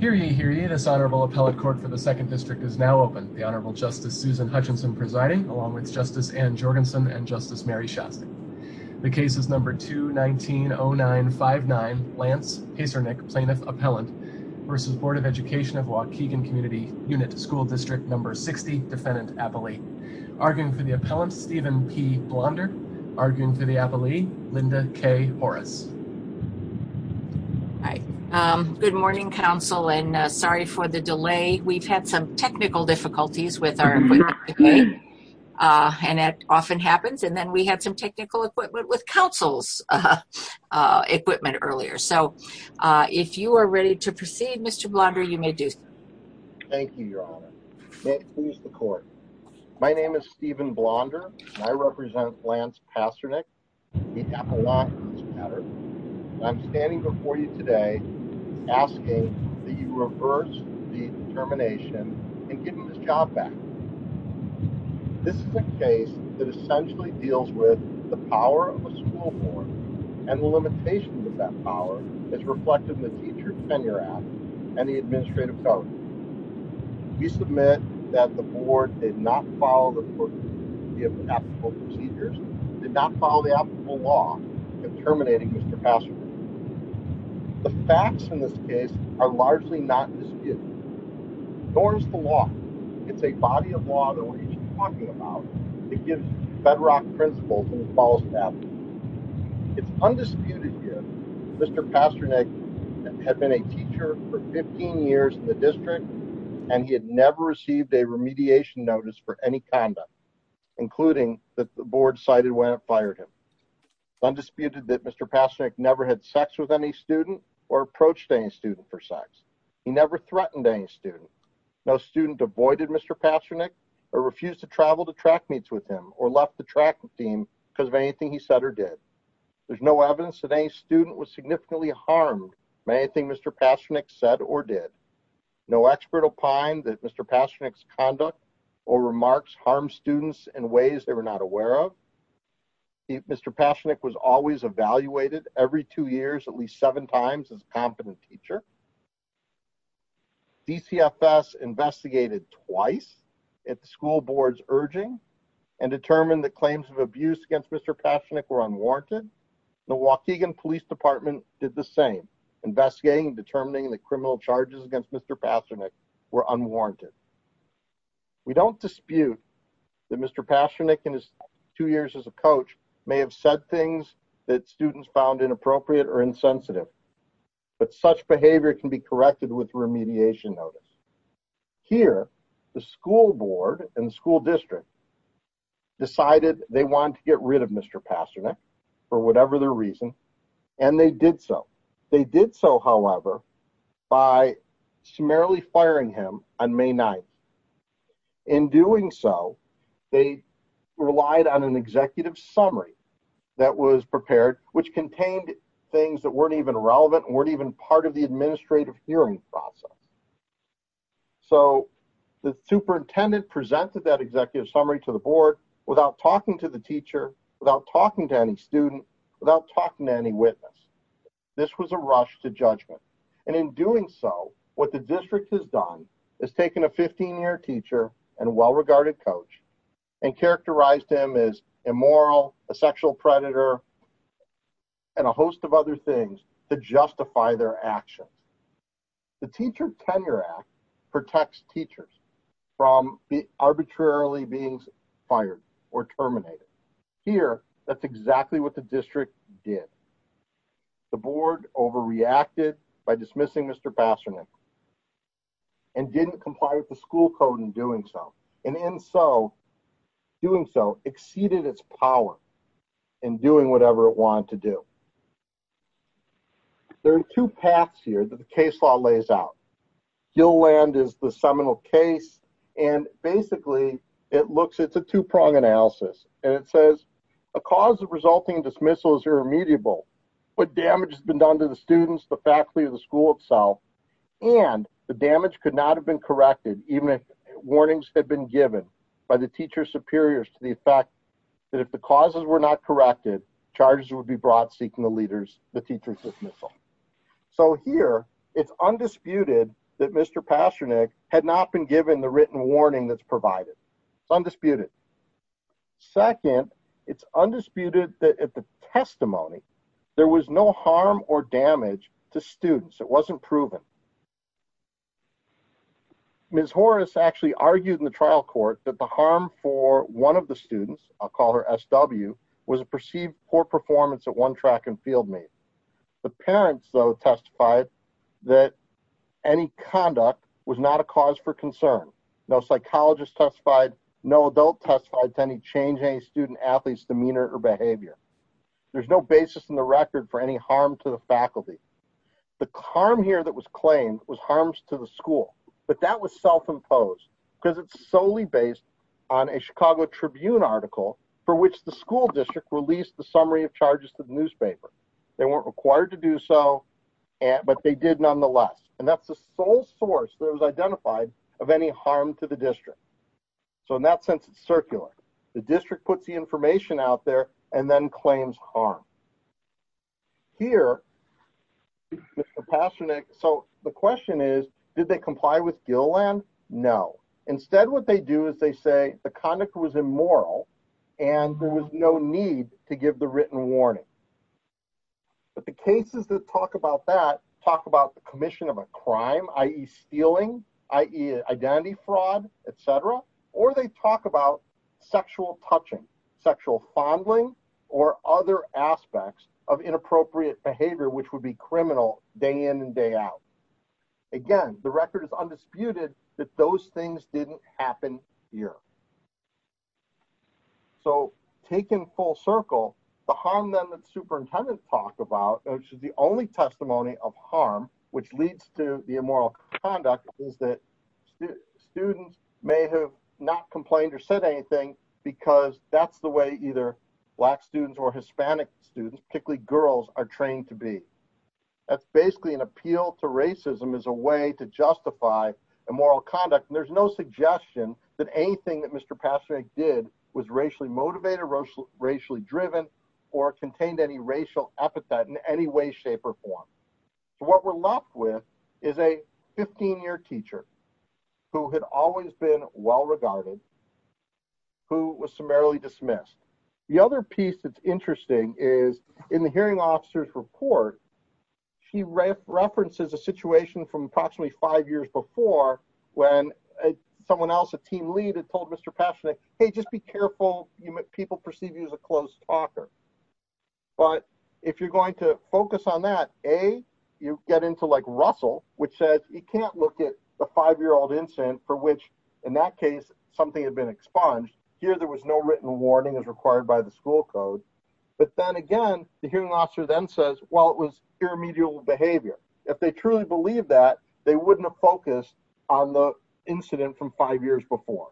Here ye, here ye, this Honorable Appellate Court for the 2nd District is now open. The Honorable Justice Susan Hutchinson presiding, along with Justice Ann Jorgensen and Justice Mary Shostak. The case is No. 2-19-09-59, Lance Pacernick, Plaintiff Appellant v. Board of Education of Waukegan Community Unit School District No. 60, Defendant Appellee. Arguing for the appellant, Stephen P. Blonder. Arguing for the appellee, Linda K. Horace. Hi, good morning, counsel, and sorry for the delay. We've had some technical difficulties with our equipment today, and that often happens. And then we had some technical equipment with counsel's equipment earlier. So if you are ready to proceed, Mr. Blonder, you may do so. Thank you, Your Honor. May it please the Court. My name is Stephen Blonder, and I represent Lance Pacernick, the Appellant, for this matter. And I'm standing before you today asking that you reverse the termination and give him his job back. This is a case that essentially deals with the power of a school board, and the limitations of that power is reflected in the Teacher Tenure Act and the Administrative Code. We submit that the board did not follow the applicable procedures, did not follow the applicable law in terminating Mr. Pacernick. The facts in this case are largely not disputed. Nor is the law. It's a body of law that we're each talking about that gives bedrock principles and falls to that. It's undisputed here, Mr. Pacernick had been a teacher for 15 years in the district, and he had never received a remediation notice for any conduct, including that the board cited when it fired him. Undisputed that Mr. Pacernick never had sex with any student or approached any student for sex. He never threatened any student. No student avoided Mr. Pacernick or refused to travel to track meets with him or left the track team because of anything he said or did. There's no evidence that any student was significantly harmed by anything Mr. Pacernick said or did. No expert opined that Mr. Pacernick's conduct or remarks harmed students in ways they were not aware of. Mr. Pacernick was always evaluated every two years at least seven times as a competent teacher. DCFS investigated twice at the school board's urging and determined that claims of abuse against Mr. Pacernick were unwarranted. The Waukegan Police Department did the same, investigating and determining that criminal charges against Mr. Pacernick were unwarranted. We don't dispute that Mr. Pacernick in his two years as a coach may have said things that students found inappropriate or insensitive, but such behavior can be corrected with remediation notice. Here, the school board and the school district decided they wanted to get rid of Mr. Pacernick for whatever their reason, and they did so. They did so, however, by summarily firing him on May 9th. In doing so, they relied on an executive summary that was prepared, which contained things that weren't even relevant, weren't even part of the administrative hearing process. So the superintendent presented that executive summary to the board without talking to the teacher, without talking to any student, without talking to any witness. This was a rush to judgment. And in doing so, what the district has done is taken a 15-year teacher and well-regarded coach and characterized him as immoral, a The Teacher Tenure Act protects teachers from arbitrarily being fired or terminated. Here, that's exactly what the district did. The board overreacted by dismissing Mr. Pacernick and didn't comply with the school code in doing so, and in doing so, exceeded its power in doing whatever it wanted to do. There are two paths here that the case law lays out. Gill Land is the seminal case, and basically, it looks, it's a two-prong analysis, and it says, a cause of resulting dismissal is irremediable. What damage has been done to the students, the faculty, the school itself, and the damage could not have been corrected, even if warnings had been given by the teacher superiors to the effect that if the causes were not corrected, charges would be brought seeking the teachers' dismissal. So here, it's undisputed that Mr. Pacernick had not been given the written warning that's provided. It's undisputed. Second, it's undisputed that at the testimony, there was no harm or damage to students. It wasn't proven. Ms. Horace actually argued in the trial court that the harm for one of the students, I'll call her SW, was a perceived poor performance at one track and field meet. The parents, though, testified that any conduct was not a cause for concern. No psychologist testified, no adult testified to any change in any student athlete's demeanor or behavior. There's no basis in the record for any harm here that was claimed was harms to the school. But that was self-imposed because it's solely based on a Chicago Tribune article for which the school district released the summary of charges to the newspaper. They weren't required to do so, but they did nonetheless. And that's the sole source that was identified of any harm to the district. So in that sense, it's circular. The district puts the information out there and then claims harm. Here, Mr. Pasternak, so the question is, did they comply with Gilleland? No. Instead, what they do is they say the conduct was immoral and there was no need to give the written warning. But the cases that talk about that talk about the commission of a crime, i.e. stealing, identity fraud, etc., or they talk about sexual touching, sexual fondling, or other aspects of inappropriate behavior, which would be criminal day in and day out. Again, the record is undisputed that those things didn't happen here. So taken full circle, the harm that the superintendent talked about, which is the testimony of harm, which leads to the immoral conduct is that students may have not complained or said anything because that's the way either Black students or Hispanic students, particularly girls, are trained to be. That's basically an appeal to racism as a way to justify immoral conduct. And there's no suggestion that anything that Mr. Pasternak did was racially motivated, racially driven, or contained any racial epithet in any way, shape, or form. So what we're left with is a 15-year teacher who had always been well regarded, who was summarily dismissed. The other piece that's interesting is in the hearing officer's report, she references a situation from approximately five years before when someone a team lead had told Mr. Pasternak, hey, just be careful, people perceive you as a close talker. But if you're going to focus on that, A, you get into like Russell, which says you can't look at a five-year-old incident for which, in that case, something had been expunged. Here there was no written warning as required by the school code. But then again, the hearing officer then says, well, it was irremediable behavior. If they truly believed that, they wouldn't have focused on the incident from five years before.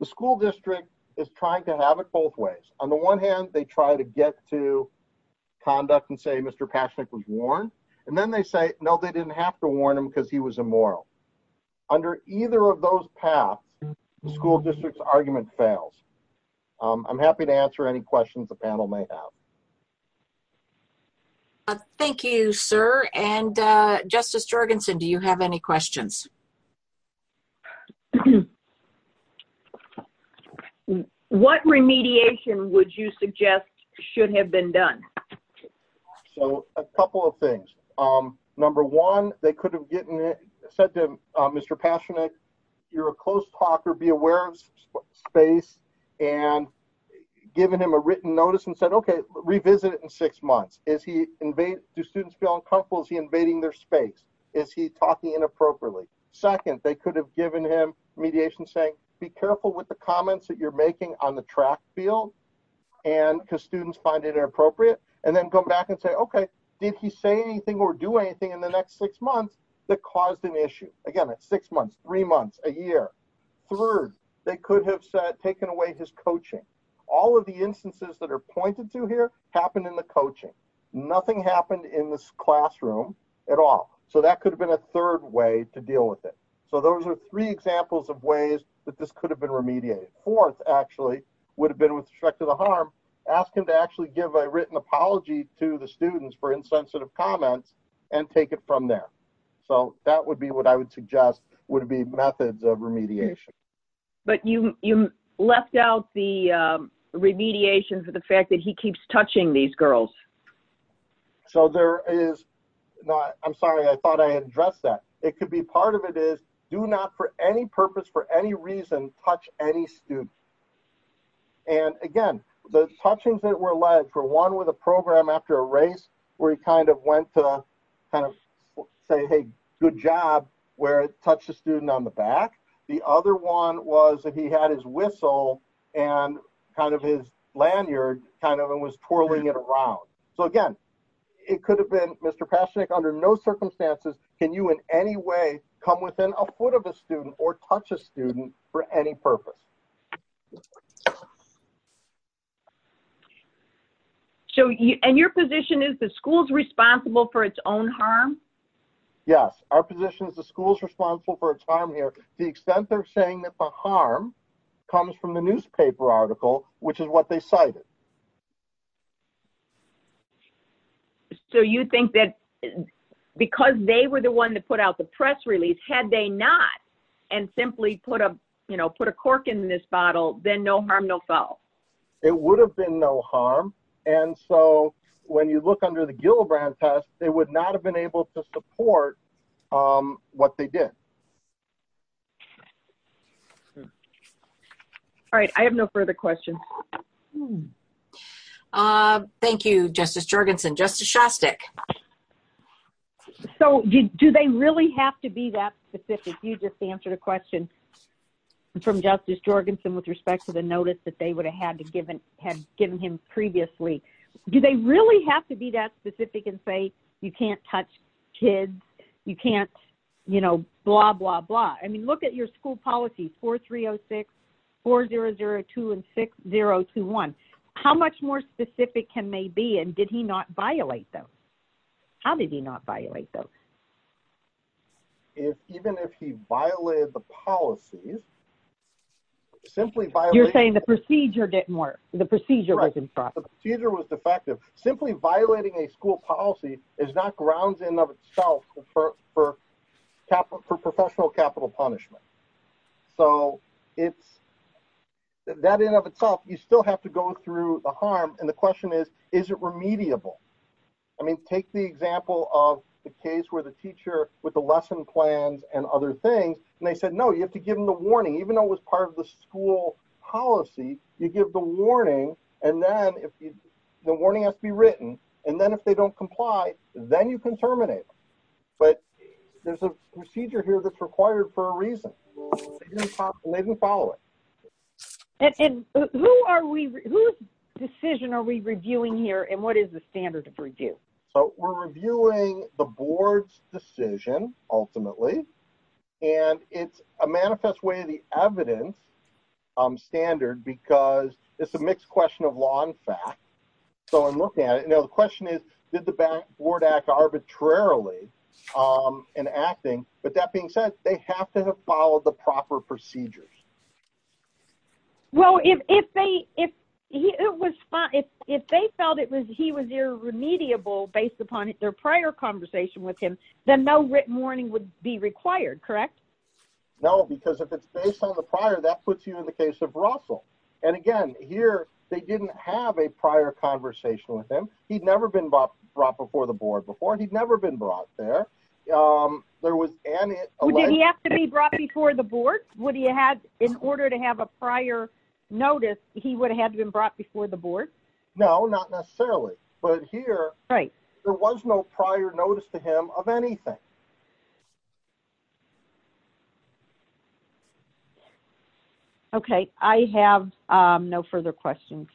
The school district is trying to have it both ways. On the one hand, they try to get to conduct and say Mr. Pasternak was warned. And then they say, no, they didn't have to warn him because he was immoral. Under either of those paths, the school district's argument fails. I'm happy to answer any questions the panel may have. Thank you, sir. And Justice Jorgensen, do you have any questions? ≫ Thank you. ≫ What remediation would you suggest should have been done? ≫ So a couple of things. Number one, they could have said to Mr. Pasternak, you're a close talker, be aware of space, and given him a written notice and said, okay, revisit it in six months. Do students feel uncomfortable? Is he doing something wrong? And then the second thing, they could have given him mediation saying, be careful with the comments that you're making on the track field, because students find it inappropriate, and then come back and say, okay, did he say anything or do anything in the next six months that caused an issue? Again, it's six months, three months, a year. Third, they could have said, taken away his coaching. All of the instances that are pointed to here happened in coaching. Nothing happened in this classroom at all. So that could have been a third way to deal with it. So those are three examples of ways that this could have been remediated. Fourth, actually, would have been with respect to the harm, asking to actually give a written apology to the students for insensitive comments and take it from there. So that would be what I would suggest would be methods of remediation. ≫ But you left out the the fact that he keeps touching these girls. ≫ So there is, I'm sorry, I thought I addressed that. It could be part of it is, do not for any purpose, for any reason, touch any student. And again, the touchings that were led, for one, with a program after a race, where he kind of went to kind of say, hey, good job, where it touched a student on the back. The other one was that he had his whistle and kind of his lanyard kind of and was twirling it around. So again, it could have been, Mr. Paschenek, under no circumstances can you in any way come within a foot of a student or touch a student for any purpose. ≫ And your position is the school is responsible for its own harm? ≫ Yes, our position is the school is responsible for its harm here to the extent they're saying that the harm comes from the newspaper article, which is what they cited. ≫ So you think that because they were the one that put out the press release, had they not and simply put a cork in this bottle, then no harm, no foul? ≫ It would have been no harm. And so when you look under the Gillibrand test, they would not have been able to support what they did. ≫ All right. I have no further questions. ≫ Thank you, Justice Jorgensen. Justice Shostak. ≫ So do they really have to be that specific? You just answered a question from Justice Jorgensen with respect to the notice that they would have had given him previously. Do they really have to be that specific and say you can't touch kids, you can't, you know, blah, blah, blah? I mean, look at your school policy, 4306, 4002, and 6021. How much more specific can they be? And did he not violate those? How did he not violate those? ≫ Even if he violated the policies, simply violated ≫ You're saying the procedure didn't ≫ Defective. Simply violating a school policy is not grounds in of itself for professional capital punishment. So it's that in of itself, you still have to go through the harm. And the question is, is it remediable? I mean, take the example of the case where the teacher with the lesson plans and other things, and they said, no, you have to give them the warning, even though it was part of the school policy, you give the warning, and then the warning has to be written, and then if they don't comply, then you can terminate them. But there's a procedure here that's required for a reason. They didn't follow it. ≫ And whose decision are we reviewing here, and what is the standard of review? ≫ So we're reviewing the board's decision, ultimately. And it's a manifest way of the evidence standard, because it's a mixed question of law and fact. So I'm looking at it. Now, the question is, did the board act arbitrarily in acting? But that being said, they have to have followed the proper procedures. ≫ Well, if they felt he was irremediable based upon their prior conversation with him, then no written warning would be required, correct? ≫ No, because if it's based on the prior, that puts you in the case of Russell. And again, here, they didn't have a prior conversation with him. He'd never been brought before the board before, and he'd never been brought there. ≫ Would he have to be brought before the board? In order to have a prior notice, he would have been brought before the board? ≫ No, not necessarily. But here, there was no prior notice to him of anything. ≫ Okay. I have no further questions.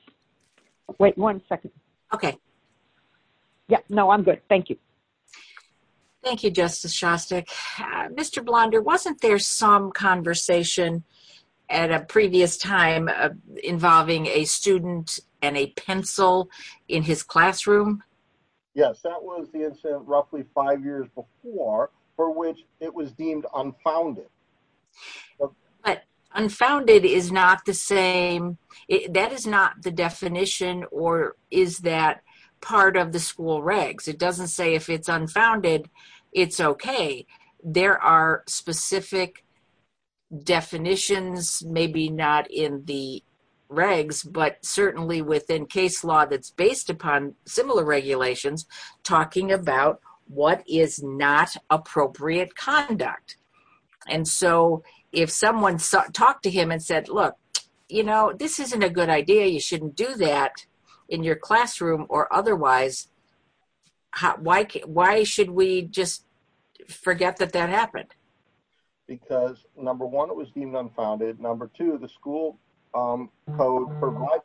Wait one second. No, I'm good. Thank you. ≫ Thank you, Justice Shostak. Mr. Blonder, wasn't there some conversation at a previous time involving a student and a pencil in his classroom? Yes, that was the incident roughly five years before, for which it was deemed unfounded. ≫ But unfounded is not the same, that is not the definition, or is that part of the school regs? It doesn't say if it's unfounded, it's okay. There are specific definitions, maybe not in the regs, but certainly within case law that's based upon similar regulations, talking about what is not appropriate conduct. And so, if someone talked to him and said, look, you know, this isn't a good idea, you shouldn't do that in your classroom or otherwise, why should we just forget that that happened? ≫ Because number one, it was deemed unfounded. Number two, the school code provides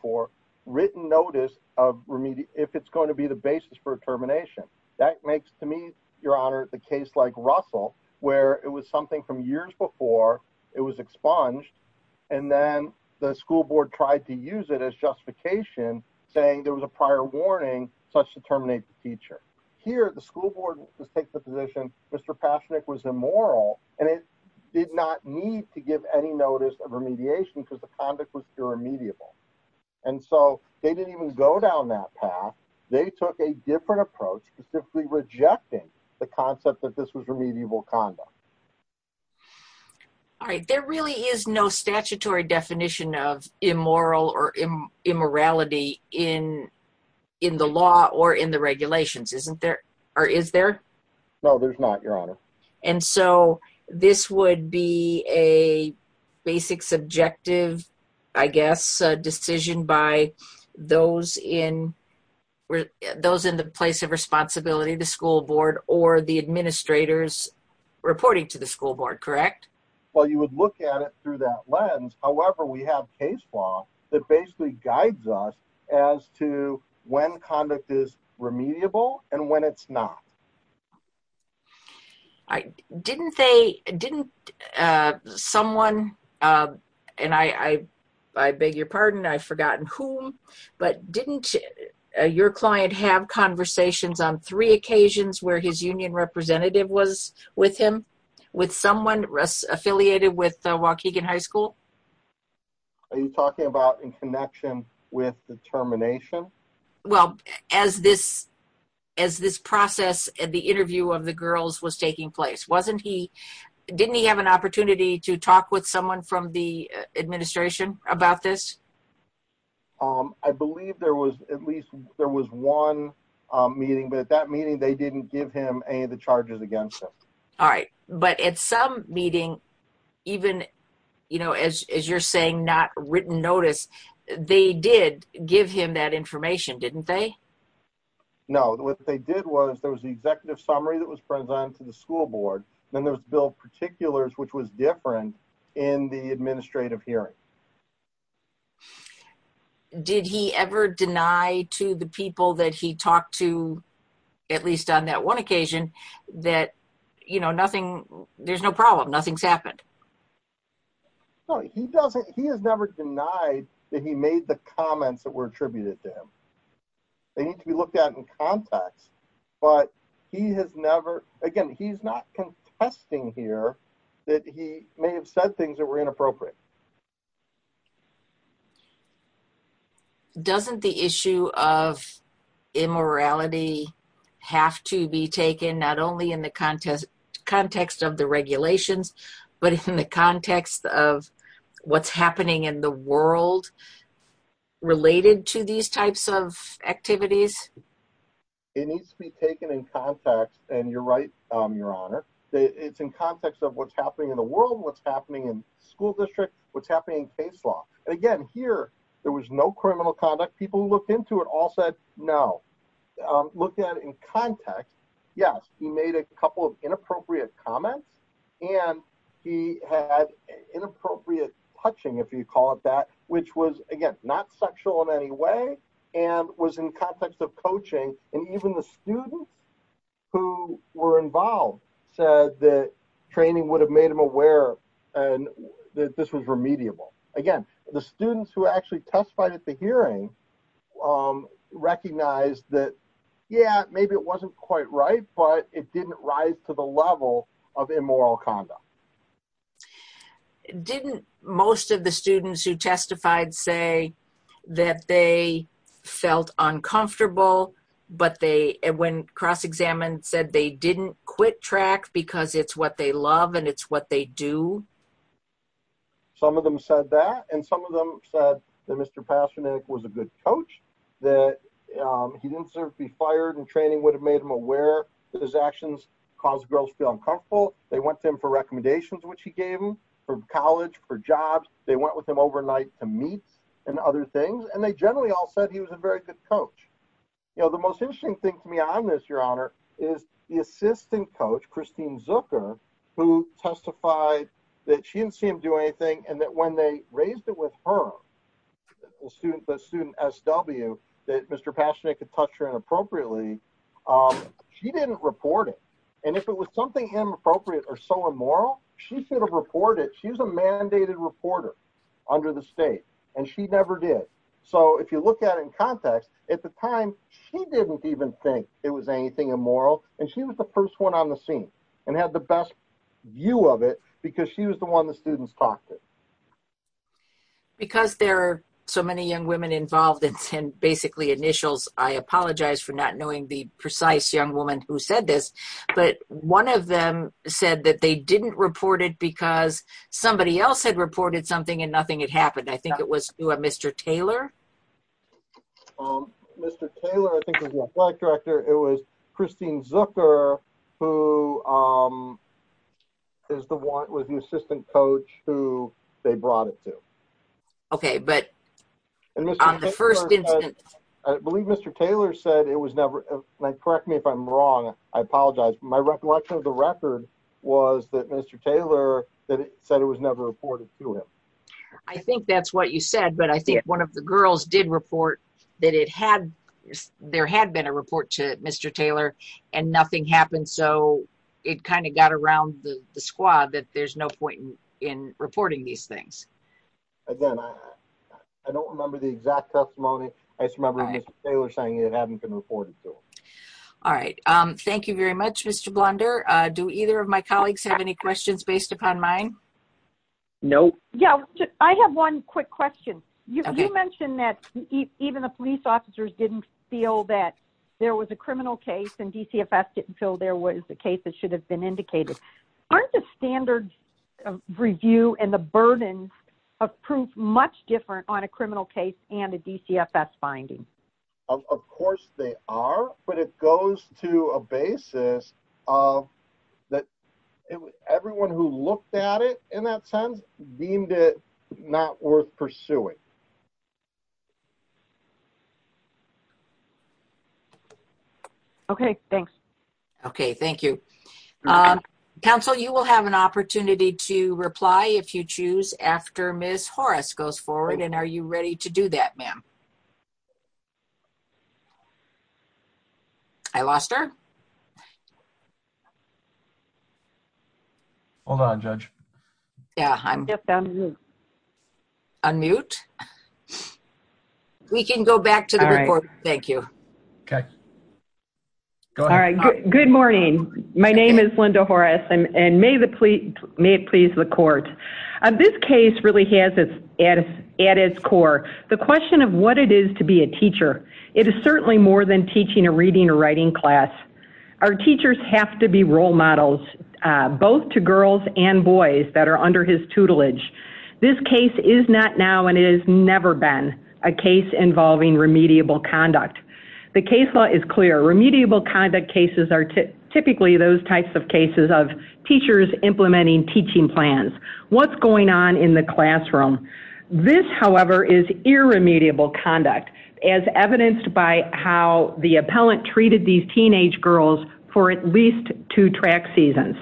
for written notice, if it's going to be the basis for termination. That makes, to me, your honor, the case like Russell, where it was something from years before, it was expunged, and then the school board tried to use it as justification, saying there was a prior warning, such to terminate the teacher. Here, the school board takes the position, Mr. Pashnik was immoral, and it did not need to give any notice of remediation, because the conduct was pure remediable. And so, they didn't even go down that path. They took a different approach, specifically rejecting the concept that this was remediable conduct. ≫ All right. There really is no statutory definition of immoral or immorality in the law or in the regulations, or is there? ≫ No, there's not, your honor. ≫ And so, this would be a basic subjective, I guess, decision by those in the place of responsibility, the school board, or the administrators reporting to the school board, correct? ≫ Well, you would look at it through that lens. However, we have case law that basically guides us as to when conduct is remediable and when it's not. ≫ Didn't they, didn't someone, and I beg your pardon, I've forgotten whom, but didn't your client have conversations on three occasions where his union representative was with him, with someone affiliated with Waukegan High School? ≫ Are you talking about in connection with the termination? ≫ Well, as this process and the interview of the girls was taking place, wasn't he, didn't he have an opportunity to talk with someone from the administration about this? ≫ I believe there was at least, there was one meeting, but at that meeting, they didn't give him any of the charges against him. ≫ All right. But at some meeting, even, you know, as you're saying, not written notice, they did give him that information, didn't they? ≫ No. What they did was there was the executive summary that was presented to the school board, then there was bill particulars, which was different in the administrative hearing. ≫ Did he ever deny to the people that he talked to, at least on that one occasion, that, you know, nothing, there's no problem, nothing's happened? ≫ No, he doesn't, he has never denied that he made the comments that were attributed to him. They need to be looked at in context. But he has never, again, he's not contesting here that he may have said things that were inappropriate. ≫ Doesn't the issue of immorality have to be taken not only in the context of the regulations, but in the context of what's happening in the world related to these types of activities? ≫ It needs to be taken in context, and you're right, Your Honor, it's in context of what's happening in school district, what's happening in case law. And again, here, there was no criminal conduct. People who looked into it all said no. Looked at it in context, yes, he made a couple of inappropriate comments, and he had inappropriate touching, if you call it that, which was, again, not sexual in any way, and was in context of coaching, and even the student who were involved said that training would have made them aware that this was remediable. Again, the students who actually testified at the hearing recognized that, yeah, maybe it wasn't quite right, but it didn't rise to the level of immoral conduct. ≫ Didn't most of the students who testified say that they felt uncomfortable, but they, when cross-examined, said they didn't quit track because it's what they love and it's what they do? ≫ Some of them said that, and some of them said that Mr. Pasternak was a good coach, that he didn't deserve to be fired, and training would have made him aware that his actions caused girls to feel uncomfortable. They went to him for recommendations, which he gave them, for college, for jobs. They went with him overnight to meets and other things, and they generally all said he was a very good coach. The most interesting thing for me on this, Your Honor, is the assistant coach, Christine Zucker, who testified that she didn't see him do anything, and that when they raised it with her, the student SW, that Mr. Pasternak had touched her inappropriately, she didn't report it, and if it was something inappropriate or so immoral, she should have reported it. She's a mandated reporter under the state, and she never did. If you look at it in context, at the time, she didn't even think it was anything immoral, and she was the first one on the scene and had the best view of it, because she was the one the students talked to. ≫ Because there are so many young women involved in basically initials, I apologize for not knowing the precise young woman who said this, but one of them said that they didn't report it because somebody else had reported something and nothing had happened. I think it was Mr. Taylor. ≫ Mr. Taylor, I think it was the athletic director. It was Christine Zucker who is the one with the assistant coach who they brought it to. ≫ Okay, but on the first instance ≫ I believe Mr. Taylor said it was never, correct me if I'm wrong, I apologize. My recollection of the record was that Mr. Taylor said it was never reported to him. ≫ I think that's what you said, but I think one of the girls did report that there had been a report to Mr. Taylor and nothing happened, so it kind of got around the squad that there's no point in reporting these things. ≫ Again, I don't remember the exact testimony. I just remember Mr. Taylor saying it hadn't been reported to him. ≫ All right. Thank you very much, Mr. Blunder. Do either of my colleagues have any questions based upon mine? ≫ No. ≫ I have one quick question. You mentioned that even the police officers didn't feel that there was a criminal case and DCFS didn't feel there was a case that should have been indicated. Aren't the standards of review and the burden of proof much different on a criminal case and a DCFS finding? ≫ Of course they are, but it goes to a basis of that everyone who looked at it in that sense deemed it not worth pursuing. ≫ Okay. Thanks. ≫ Okay. Thank you. Council, you will have an opportunity to reply if you choose after Ms. Horace goes forward, and are you ready to do that, ma'am? I lost her. ≫ Hold on, judge. ≫ Yeah, I'm just on mute. ≫ On mute? ≫ We can go back to the report. Thank you. ≫ Okay. Go ahead. ≫ All right. Good morning. My name is Linda and I'm a teacher. I'm a teacher. I'm a teacher at its core. The question of what it is to be a teacher, it is certainly more than teaching a reading or writing class. Our teachers have to be role models, both to girls and boys that are under his tutelage. This case is not now and it has never been a case involving remediable conduct. The case law is clear. Remediable conduct cases are typically those types of cases of teachers implementing teaching plans. What's going on in the classroom? This, however, is irremediable conduct, as evidenced by how the appellant treated these teenage girls for at least two track seasons.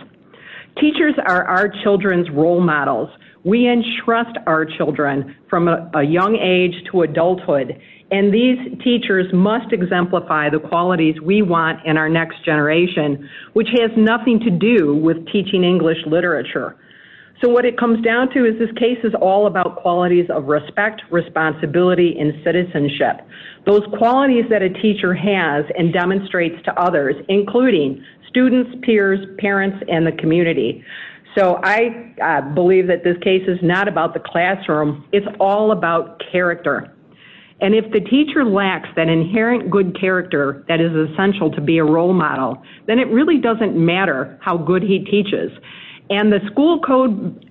Teachers are our children's role models. We entrust our children from a young age to adulthood, and these teachers must exemplify the qualities we want in our next generation, which has nothing to do with teaching English literature. So what it comes down to is this case is all about qualities of respect, responsibility, and citizenship, those qualities that a teacher has and demonstrates to others, including students, peers, parents, and the community. So I believe that this case is not about the classroom. It's all about character. And if the teacher lacks that inherent good character that is essential to be a role model, then it really doesn't matter how good he teaches. And the school code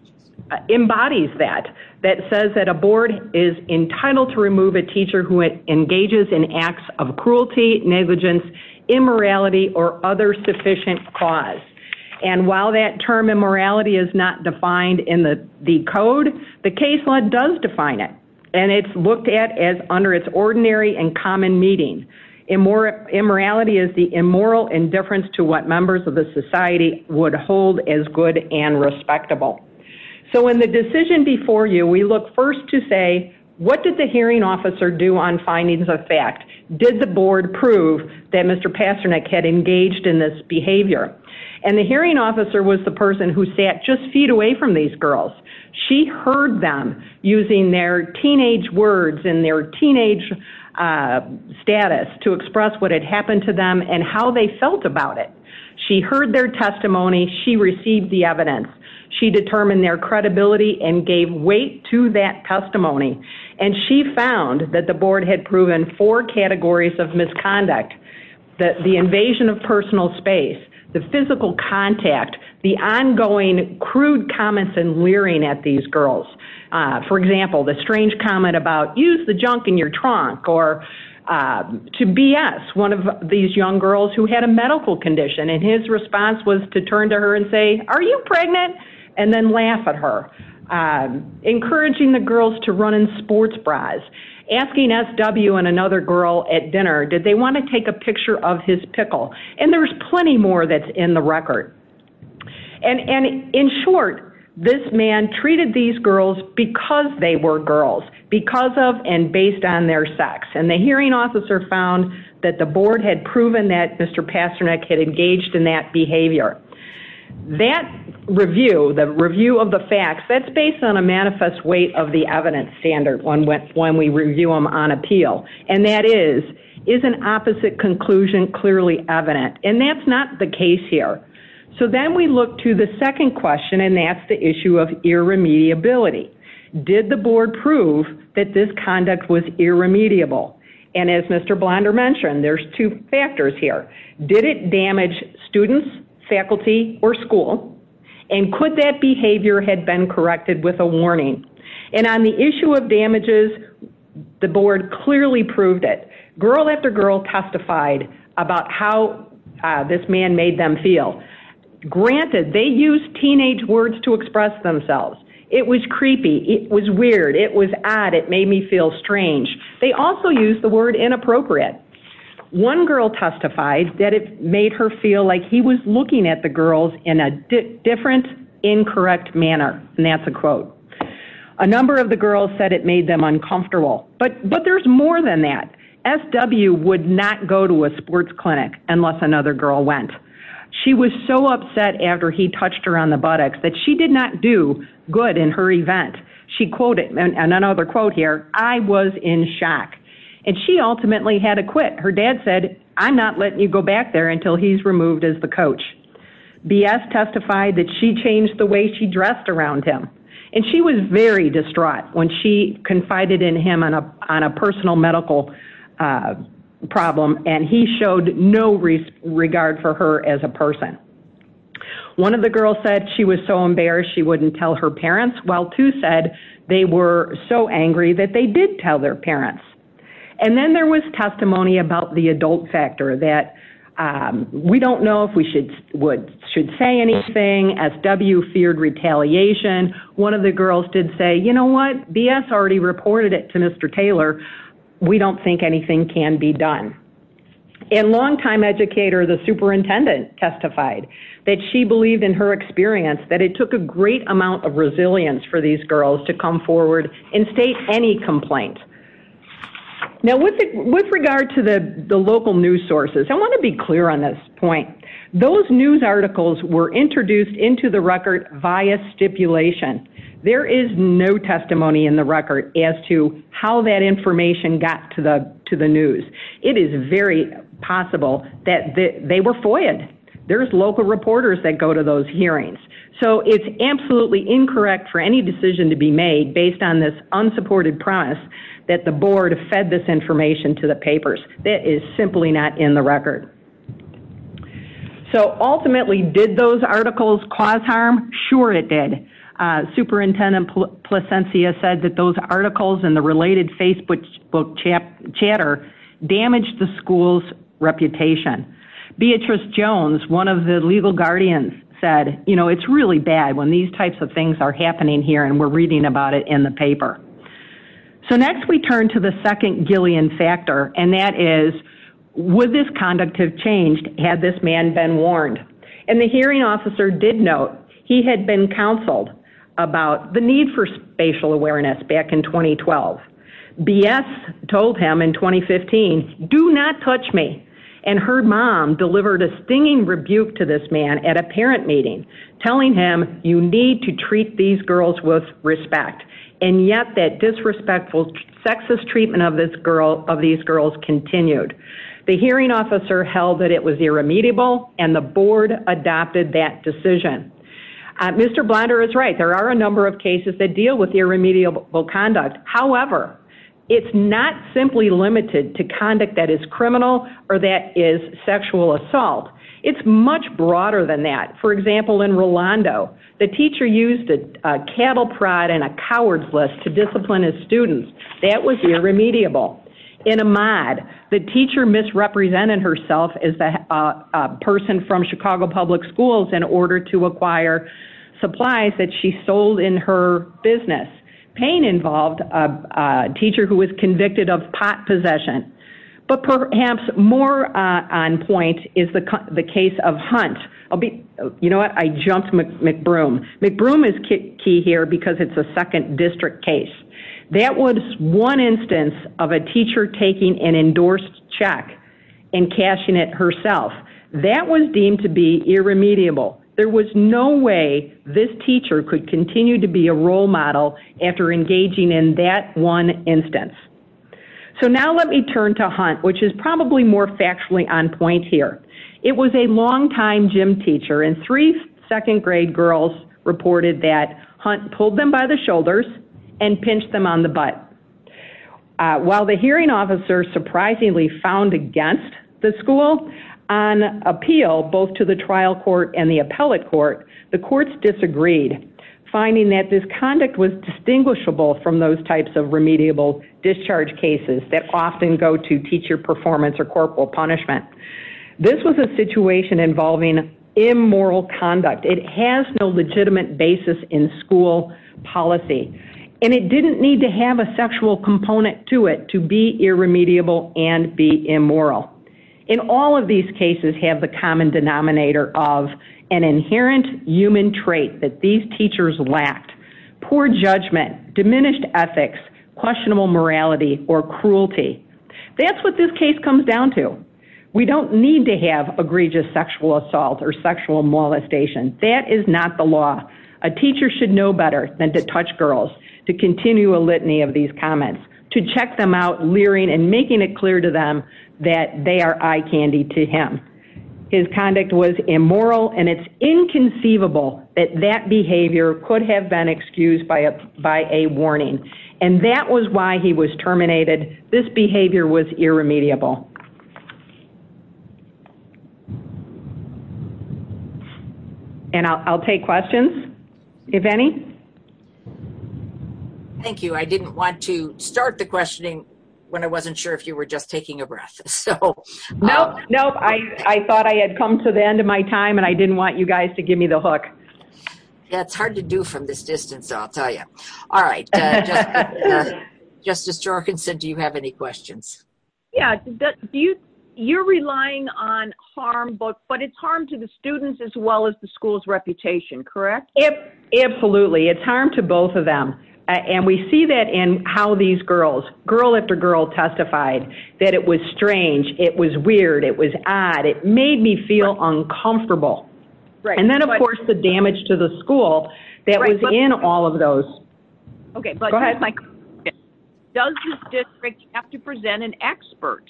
embodies that, that says that a board is entitled to remove a teacher who engages in acts of cruelty, negligence, immorality, or other sufficient cause. And while that term immorality is not defined in the code, the case law does define it, and it's looked at as under its ordinary and common meaning. Immorality is the immoral indifference to what members of the society would hold as good and respectable. So in the decision before you, we look first to say, what did the hearing officer do on findings of fact? Did the board prove that Mr. Pasternak had engaged in this behavior? And the hearing officer was the person who sat just feet away from these girls. She heard them using their teenage words and their teenage status to express what had happened to them and how they felt about it. She heard their testimony. She received the evidence. She determined their credibility and gave weight to that testimony. And she found that the board had proven four categories of misconduct, that the invasion of personal space, the physical contact, the ongoing crude comments and leering at these girls. For example, the strange comment about use the junk in your trunk or to BS one of these young girls who had a medical condition. And his response was to turn to her and say, are you pregnant? And then laugh at her. Encouraging the girls to run in sports bras. Asking SW and another girl at dinner, did they want to take a picture of his pickle? And there's plenty more that's in the record. And in short, this man treated these girls because they were girls. Because of and based on their sex. And the hearing officer found that the board had proven that Mr. Pasternak had engaged in that on a manifest way of the evidence standard when we review them on appeal. And that is, is an opposite conclusion clearly evident? And that's not the case here. So then we look to the second question. And that's the issue of irremediability. Did the board prove that this conduct was irremediable? And as Mr. Blonder mentioned, there's two factors here. Did it damage students, faculty or school? And could that behavior had been corrected with a warning? And on the issue of damages, the board clearly proved it. Girl after girl testified about how this man made them feel. Granted, they used teenage words to express themselves. It was creepy. It was weird. It was odd. It made me feel strange. They also used the word inappropriate. One girl testified that it made her feel like he was looking at the girls in a different, incorrect manner. And that's a quote. A number of the girls said it made them uncomfortable. But there's more than that. SW would not go to a sports clinic unless another girl went. She was so upset after he touched her on the buttocks that she did not do good in her event. She quoted, and another quote here, I was in shock. And she ultimately had to quit. Her dad said, I'm not letting you go back there until he's removed as the coach. BS testified that she changed the way she dressed around him. And she was very distraught when she confided in him on a personal medical problem. And he showed no regard for her as a person. One of the girls said she was so embarrassed she wouldn't tell her parents. While two said they were so angry that they did not tell their parents. And then there was testimony about the adult factor that we don't know if we should say anything. SW feared retaliation. One of the girls did say, you know what, BS already reported it to Mr. Taylor. We don't think anything can be done. And long-time educator, the superintendent testified that she believed in her experience that it took a great amount of Now, with regard to the local news sources, I want to be clear on this point. Those news articles were introduced into the record via stipulation. There is no testimony in the record as to how that information got to the news. It is very possible that they were FOIAed. There's local reporters that go to those hearings. So it's absolutely incorrect for any decision to be made based on this that the board fed this information to the papers. That is simply not in the record. So ultimately, did those articles cause harm? Sure, it did. Superintendent Plasencia said that those articles and the related Facebook chatter damaged the school's reputation. Beatrice Jones, one of the legal guardians, said, you know, it's really bad when these types of things are So next we turn to the second Gillian factor, and that is, would this conduct have changed had this man been warned? And the hearing officer did note he had been counseled about the need for spatial awareness back in 2012. BS told him in 2015, do not touch me. And her mom delivered a stinging rebuke to this man at a parent meeting, telling him you need to treat these girls with respect. And yet that disrespectful sexist treatment of this girl of these girls continued. The hearing officer held that it was irremediable and the board adopted that decision. Mr. Blunder is right. There are a number of cases that deal with irremediable conduct. However, it's not simply limited to conduct that is criminal or that is sexual assault. It's much broader than that. For example, in Rolando, the teacher used a cattle prod and a coward's list to discipline his students. That was irremediable. In Ahmaud, the teacher misrepresented herself as a person from Chicago Public Schools in order to acquire supplies that she sold in her business. Payne involved a teacher who was convicted of pot possession. But perhaps more on point is the case of Hunt. You know what? I jumped McBroom. McBroom is key here because it's a second district case. That was one instance of a teacher taking an endorsed check and cashing it herself. That was deemed to be irremediable. There was no way this teacher could continue to be a role model after engaging in that one instance. So now let me turn to Hunt, which is probably more factually on point here. It was a long time gym teacher and three second grade girls reported that Hunt pulled them by the shoulders and pinched them on the butt. While the hearing officer surprisingly found against the school on appeal, both to the trial court and the appellate court, the courts disagreed, finding that this conduct was distinguishable from those types of remediable discharge cases that often go to teacher performance or corporal punishment. This was a situation involving immoral conduct. It has no legitimate basis in school policy. And it didn't need to have a sexual component to it to be irremediable and be immoral. In all of these cases have the common denominator of an inherent human trait that these teachers lacked. Poor judgment, diminished ethics, questionable morality or cruelty. That's what this case comes down to. We don't need to have egregious sexual assault or sexual molestation. That is not the law. A teacher should know better than to touch girls, to continue a litany of these comments, to check them out, leering and making it clear to them that they are eye candy to him. His conduct was immoral and it's inconceivable that that behavior could have been excused by a warning. And that was why he was terminated. This behavior was irremediable. And I'll take questions. If any. Thank you. I didn't want to start the questioning when I wasn't sure if you were just taking a I didn't want you guys to give me the hook. That's hard to do from this distance, I'll tell you. All right. Justice Jorgensen, do you have any questions? Yeah. You're relying on harm, but it's harm to the students as well as the school's reputation, correct? Yep. Absolutely. It's harm to both of them. And we see that in how these girls, girl after girl, testified that it was strange. It was weird. It was odd. It made me feel uncomfortable. And then, of course, the damage to the school that was in all of those. Okay. Does this district have to present an expert?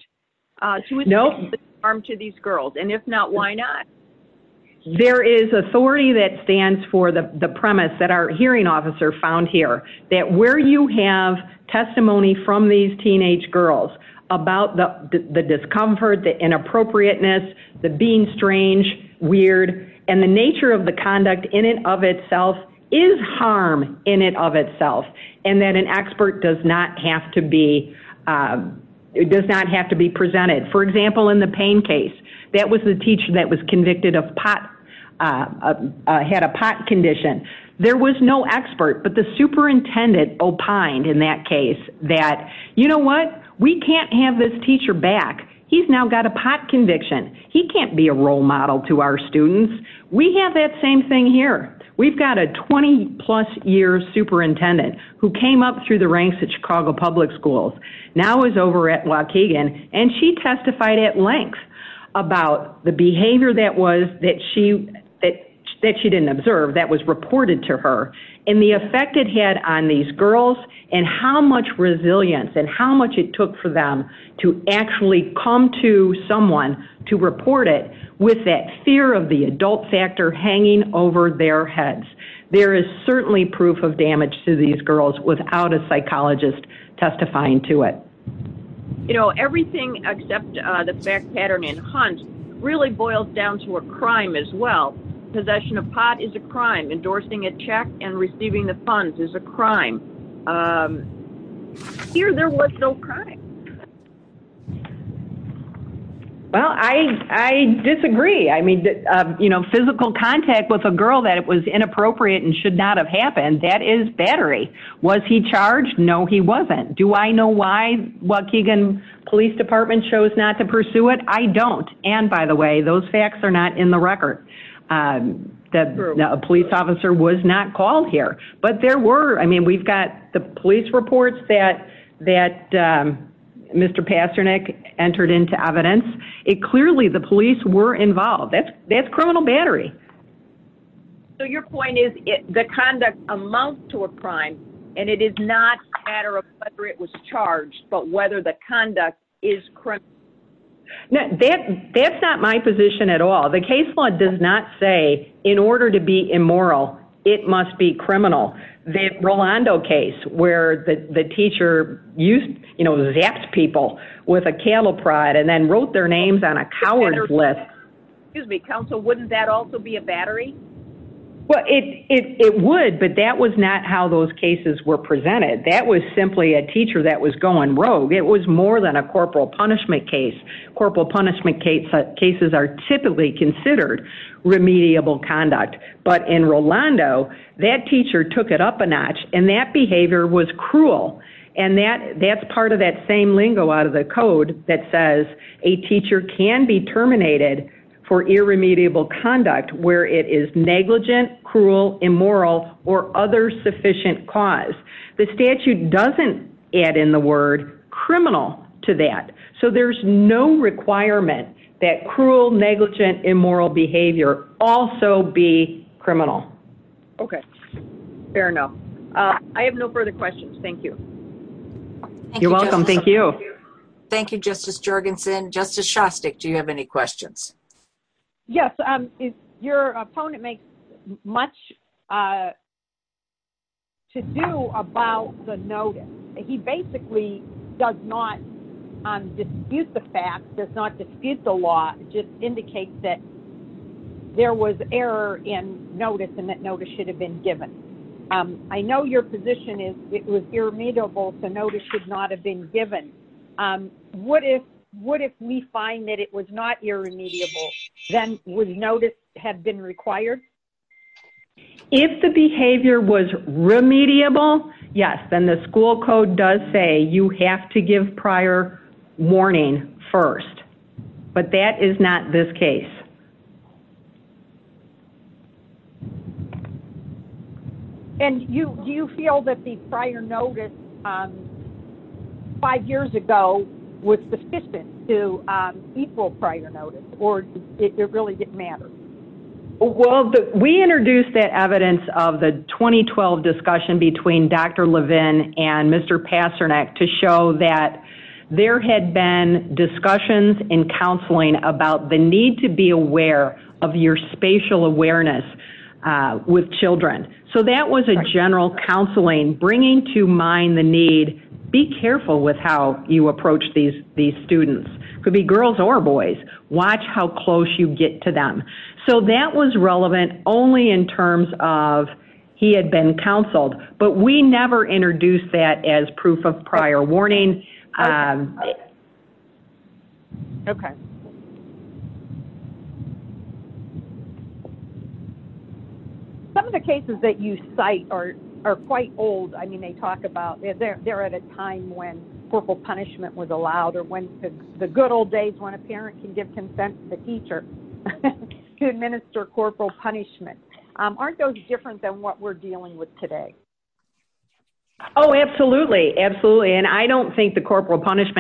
Nope. Harm to these girls? And if not, why not? There is authority that stands for the premise that our hearing officer found here, that where you have testimony from these teenage girls about the discomfort, the inappropriateness, the being strange, weird, and the nature of the conduct in and of itself is harm in and of itself. And that an expert does not have to be presented. For example, in the pain case, that was the teacher that was convicted of pot, had a pot condition. There was no expert, but the superintendent opined in that case that, you know what? We can't have this teacher back. He's now got a pot conviction. He can't be a role model to our students. We have that same thing here. We've got a 20-plus year superintendent who came up through the ranks at Chicago Public Schools, now is over at Waukegan, and she testified at length about the behavior that she didn't observe that was reported to her and the effect it had on these girls and how much resilience and how much it took for them to actually come to someone to report it with that fear of the adult factor hanging over their heads. There is certainly proof of damage to these girls without a psychologist testifying to it. You know, everything except the fact pattern in Hunt really boils down to a crime as well. Possession of pot is a crime. Endorsing a check and receiving the funds is a crime. Here, there was no crime. Well, I disagree. I mean, you know, physical contact with a girl that it was inappropriate and should not have happened, that is battery. Was he charged? No, he wasn't. Do I know why Waukegan Police Department chose not to pursue it? I don't. And by the way, those facts are not in the record. A police officer was not called here. But there were, I mean, we've got the police reports that Mr. Pasternak entered into evidence. Clearly, the police were involved. That's criminal battery. So your point is that conduct amounts to a crime and it is not a matter of whether it was charged, but whether the conduct is correct. That's not my position at all. The case law does not say in order to be immoral, it must be criminal. The Rolando case where the teacher used, you know, zaps people with a cattle prod and then wrote their names on a coward's list. Excuse me, counsel, wouldn't that also be a battery? Well, it would, but that was not how those cases were presented. That was simply a teacher that was going rogue. It was more than a corporal punishment case. Corporal punishment cases are typically considered remediable conduct. But in Rolando, that teacher took it up a notch and that behavior was cruel. And that's part of that same lingo out of the code that says a teacher can be terminated for irremediable conduct where it is negligent, cruel, immoral, or other sufficient cause. The statute doesn't add in the word criminal to that. So there's no requirement that cruel, negligent, immoral behavior also be criminal. Okay. Fair enough. I have no further questions. Thank you. You're welcome. Thank you. Thank you, Justice Jergensen. Justice Shostak, do you have any questions? Yes. Your opponent makes much to do about the notice. He basically does not dispute the facts, does not dispute the law. It just indicates that there was error in notice and that notice should have been given. I know your position is it was irremediable, the notice should not have been given. What if we find that it was not irremediable, then would notice have been required? If the behavior was remediable, yes, then the school code does say you have to give prior warning first. But that is not this case. And do you feel that the prior notice five years ago was sufficient to equal prior notice or it really didn't matter? Well, we introduced that evidence of the 2012 discussion between Dr. Levin and Mr. Pasternak to show that there had been discussions in counseling about the need to be aware of your spatial awareness with children. So that was a general counseling, bringing to mind the need, be careful with how you approach these students. Could be girls or boys. Watch how close you get to them. So that was relevant only in terms of he had been counseled. But we didn't. Some of the cases that you cite are quite old. I mean, they talk about, they're at a time when corporal punishment was allowed or when the good old days when a parent can give consent to the teacher to administer corporal punishment. Aren't those different than what we're dealing with today? Oh, absolutely. Absolutely. And I don't think the corporal discussion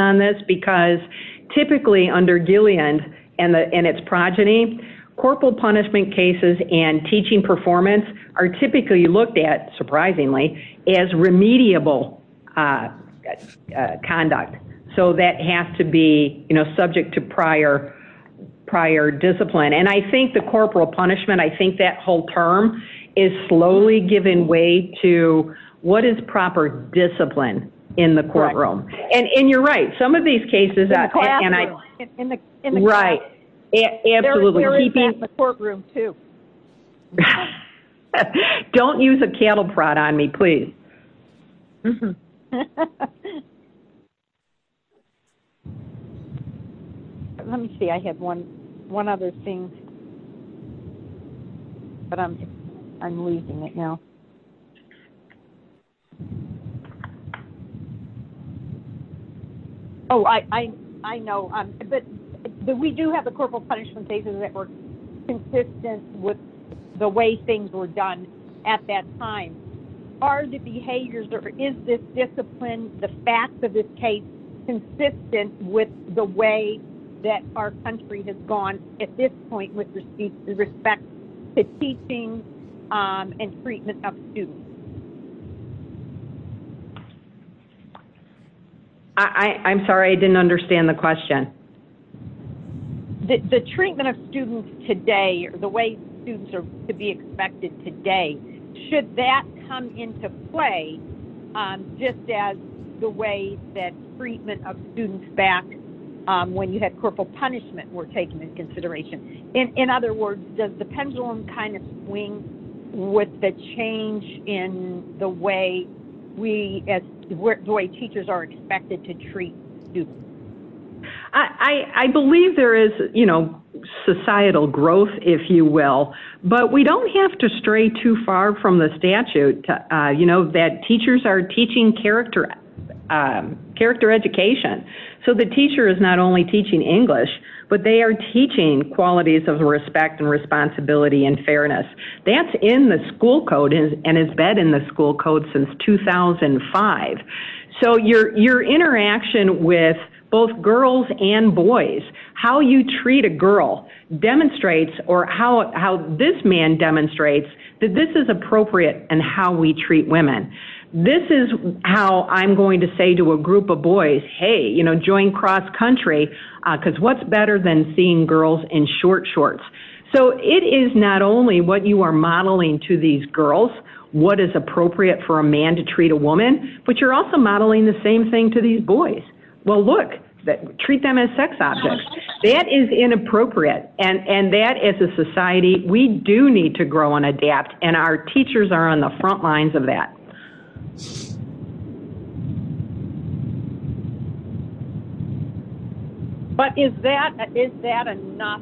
on this, because typically under Gillian and its progeny, corporal punishment cases and teaching performance are typically looked at, surprisingly, as remediable conduct. So that has to be subject to prior discipline. And I think the corporal punishment, I think that whole term is slowly giving way to what is proper discipline in the courtroom. And you're right. Some of these cases... Right. There is that in the courtroom too. Don't use a cattle prod on me, please. Let me see. I have one other thing. But I'm losing it now. Oh, I know. But we do have the corporal punishment cases that were consistent with the way things were done at that time. Are the behaviors or is this discipline, the facts of this case, consistent with the way that our country has gone at this point with respect to teaching and treatment of students? I'm sorry. I didn't understand the question. The treatment of students today, the way students are to be expected today, should that come into play just as the way that treatment of students back when you had corporal punishment were taken into consideration? In other words, does the pendulum kind of swing with the change in the way teachers are expected to treat students? I believe there is societal growth, if you will. But we don't have to stray too far from the statute that teachers are teaching character education. So the teacher is not only teaching English, but they are teaching qualities of respect and responsibility and fairness. That's in the school code and has been in the school code since 2005. So your interaction with both girls and boys, how you treat a girl demonstrates or how this man demonstrates that this is appropriate in how we treat women. This is how I'm going to say to a group of boys, hey, you know, join cross country, because what's better than seeing girls in short shorts? So it is not only what you are modeling to these girls, what is appropriate for a man to treat a woman, but you're also modeling the same thing to these boys. Well, look, treat them as sex objects. That is inappropriate. And that, as a society, we do need to grow and adapt. And our teachers are on the front lines of that. But is that enough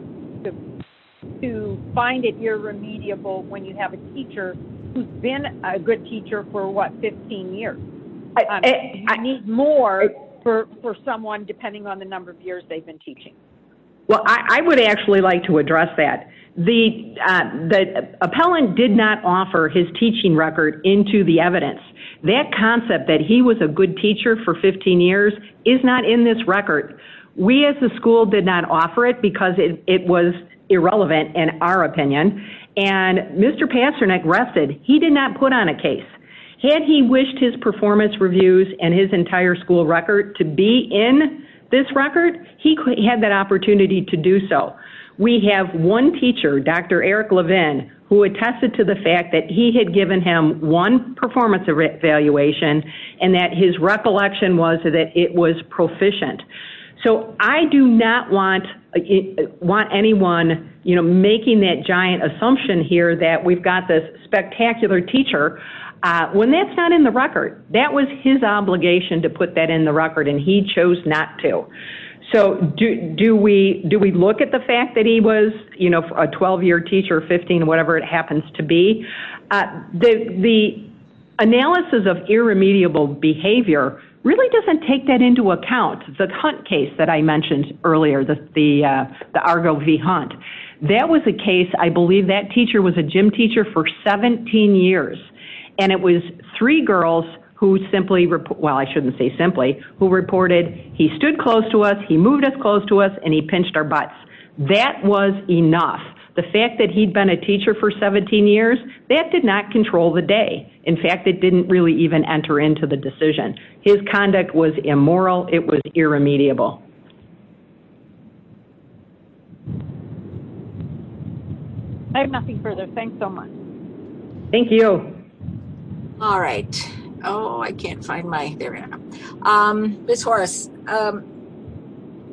to find it irremediable when you have a teacher who has been a good teacher for, what, 15 years? You need more for someone depending on the number of years they have been into the evidence. That concept that he was a good teacher for 15 years is not in this record. We as a school did not offer it because it was irrelevant in our opinion. And Mr. Pasternak rested. He did not put on a case. Had he wished his performance reviews and his entire school record to be in this record, he had that opportunity to do so. We have one teacher, Dr. Eric Levin, who attested to the fact that he had given him one performance evaluation and that his recollection was that it was proficient. So I do not want anyone, you know, making that giant assumption here that we've got this spectacular teacher when that's not in the record. That was his obligation to put that in the record, and he chose not to. So do we look at the fact that he was, you know, a 12-year teacher, 15, whatever it happens to be? The analysis of irremediable behavior really doesn't take that into account. The Hunt case that I mentioned earlier, the Argo v. Hunt, that was a case, I believe that teacher was a gym teacher for 17 years, and it was three girls who simply, well, I shouldn't say simply, who reported he stood close to us, he moved us close to us, and he pinched our butts. That was enough. The fact that he'd been a teacher for 17 years, that did not control the day. In fact, it didn't really even enter into the decision. His conduct was immoral. It was irremediable. I have nothing further. Thanks so much. Thank you. All right. Oh, I can't find my, there I am. Ms. Horace,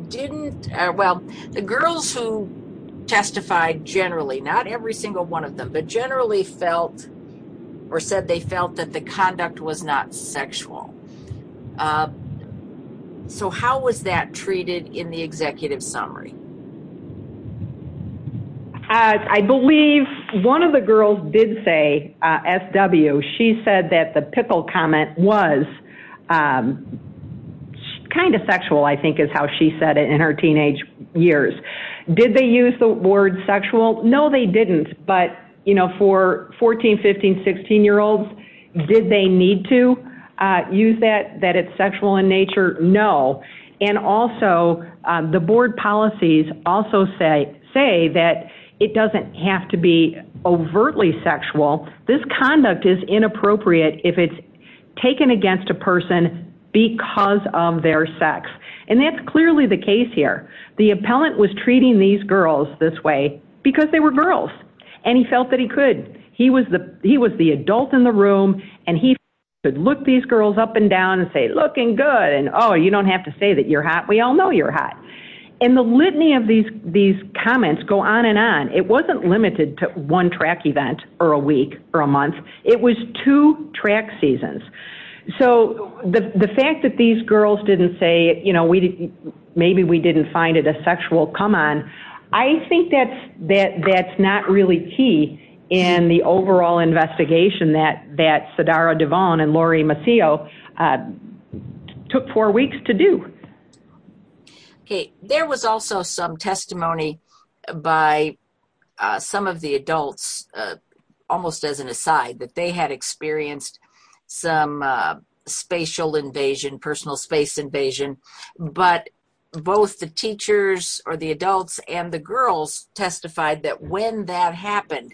didn't, well, the girls who testified generally, not every single one of them, but generally felt or said they felt that the conduct was not sexual. So how was that treated in the executive summary? I believe one of the girls did say, S.W., she said that the Pickle comment was kind of sexual, I think is how she said it in her teenage years. Did they use the word sexual? No, they didn't. But, you know, for 14, 15, 16-year-olds, did they need to use that, that it's also say that it doesn't have to be overtly sexual. This conduct is inappropriate if it's taken against a person because of their sex. And that's clearly the case here. The appellant was treating these girls this way because they were girls. And he felt that he could. He was the adult in the room, and he felt he could look these girls up and down and say, looking good. And, oh, you don't have to say that you're hot. We all know you're hot. And the litany of these comments go on and on. It wasn't limited to one track event or a week or a month. It was two track seasons. So the fact that these girls didn't say, you know, maybe we didn't find it a sexual come-on, I think that's not really key in the overall investigation that Sadara Devon and Lori Maccio took four weeks to do. Okay. There was also some testimony by some of the adults, almost as an aside, that they had experienced some spatial invasion, personal space invasion. But both the teachers or the adults and the girls testified that when that happened,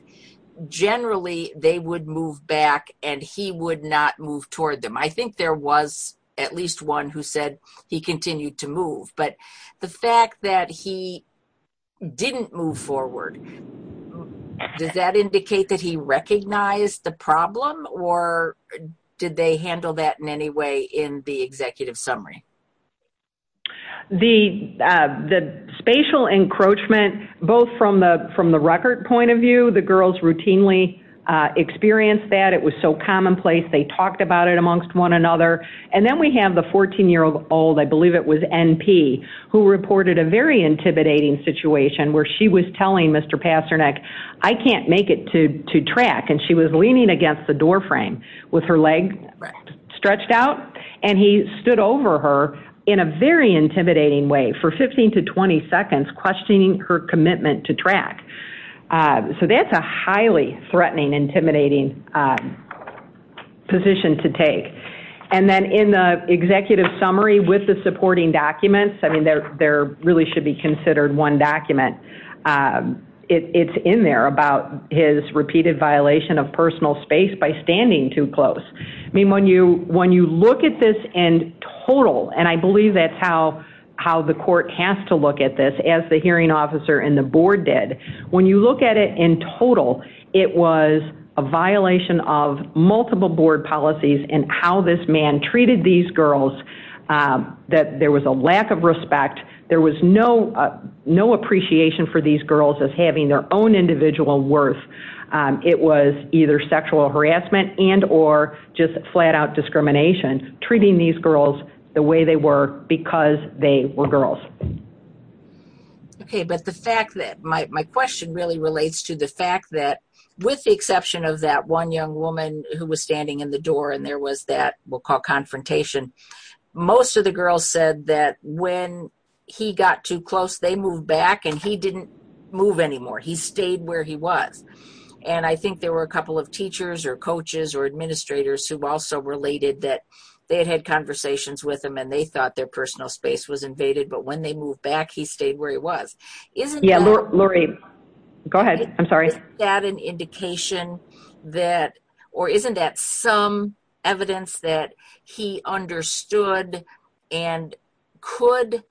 generally they would move back and he would not move toward them. I think there was at least one who said he continued to move. But the fact that he didn't move forward, does that indicate that he recognized the problem, or did they handle that in any way in the executive summary? The spatial encroachment, both from the record point of view, the girls routinely experienced that. It was so commonplace. They talked about it amongst one another. And then we have the 14-year-old, I believe it was NP, who reported a very intimidating situation where she was telling Mr. Pasternak, I can't make it to track. And she was leaning against the doorframe with her leg stretched out. And he stood over her in a very intimidating way for 15 to 20 seconds questioning her commitment to track. So that's a highly threatening, intimidating position to take. And then in the executive summary with the supporting documents, I mean, there really should be considered one document. It's in there about his repeated violation of personal space by standing too close. I mean, when you look at this in total, and I believe that's how the court has to look at this, as the hearing officer and the board did, when you look at it in total, it was a violation of multiple board policies and how this man treated these girls, that there was a lack of respect. There was no appreciation for these girls as having their own individual worth. It was either sexual harassment and or just flat out discrimination treating these girls the way they were because they were girls. Okay, but the fact that my question really relates to the fact that with the exception of that one young woman who was standing in the door and there was that we'll call confrontation, most of the girls said that when he got too close, they moved back and he didn't move anymore. He stayed where he was. And I think there were a couple of teachers or coaches or administrators who also related that they had had conversations with him and they thought their personal space was invaded. But when they moved back, he stayed where he was. Isn't that an indication that, or isn't that some evidence that he understood and could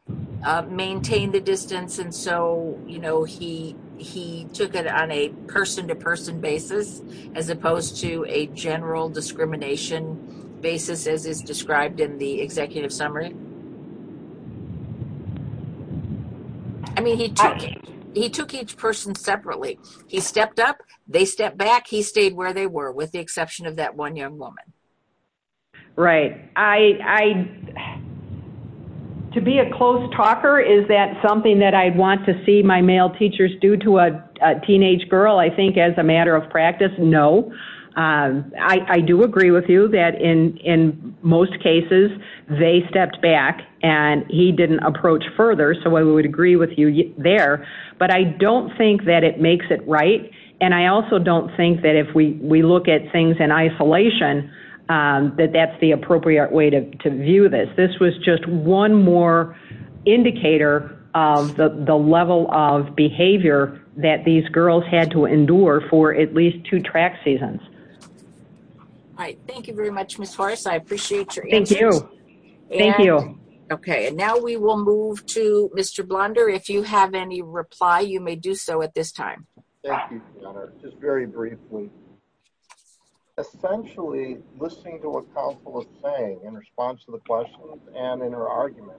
maintain the distance? And so, you know, he took it on a person to person basis, as opposed to a general discrimination basis as is described in the book. I mean, he took each person separately. He stepped up, they stepped back, he stayed where they were with the exception of that one young woman. Right. I, to be a close talker, is that something that I'd want to see my male teachers do to a teenage girl? I think as a matter of practice, no. I do agree with you that in most cases, they stepped back and he didn't approach further. So I would agree with you there. But I don't think that it makes it right. And I also don't think that if we look at things in isolation, that that's the appropriate way to view this. This was just one more indicator of the level of behavior that these girls had to endure for at least two track seasons. All right. Thank you very much, Ms. Horace. I appreciate your Okay, and now we will move to Mr. Blunder. If you have any reply, you may do so at this time. Thank you, Senator. Just very briefly. Essentially, listening to what counsel is saying in response to the questions and in her argument,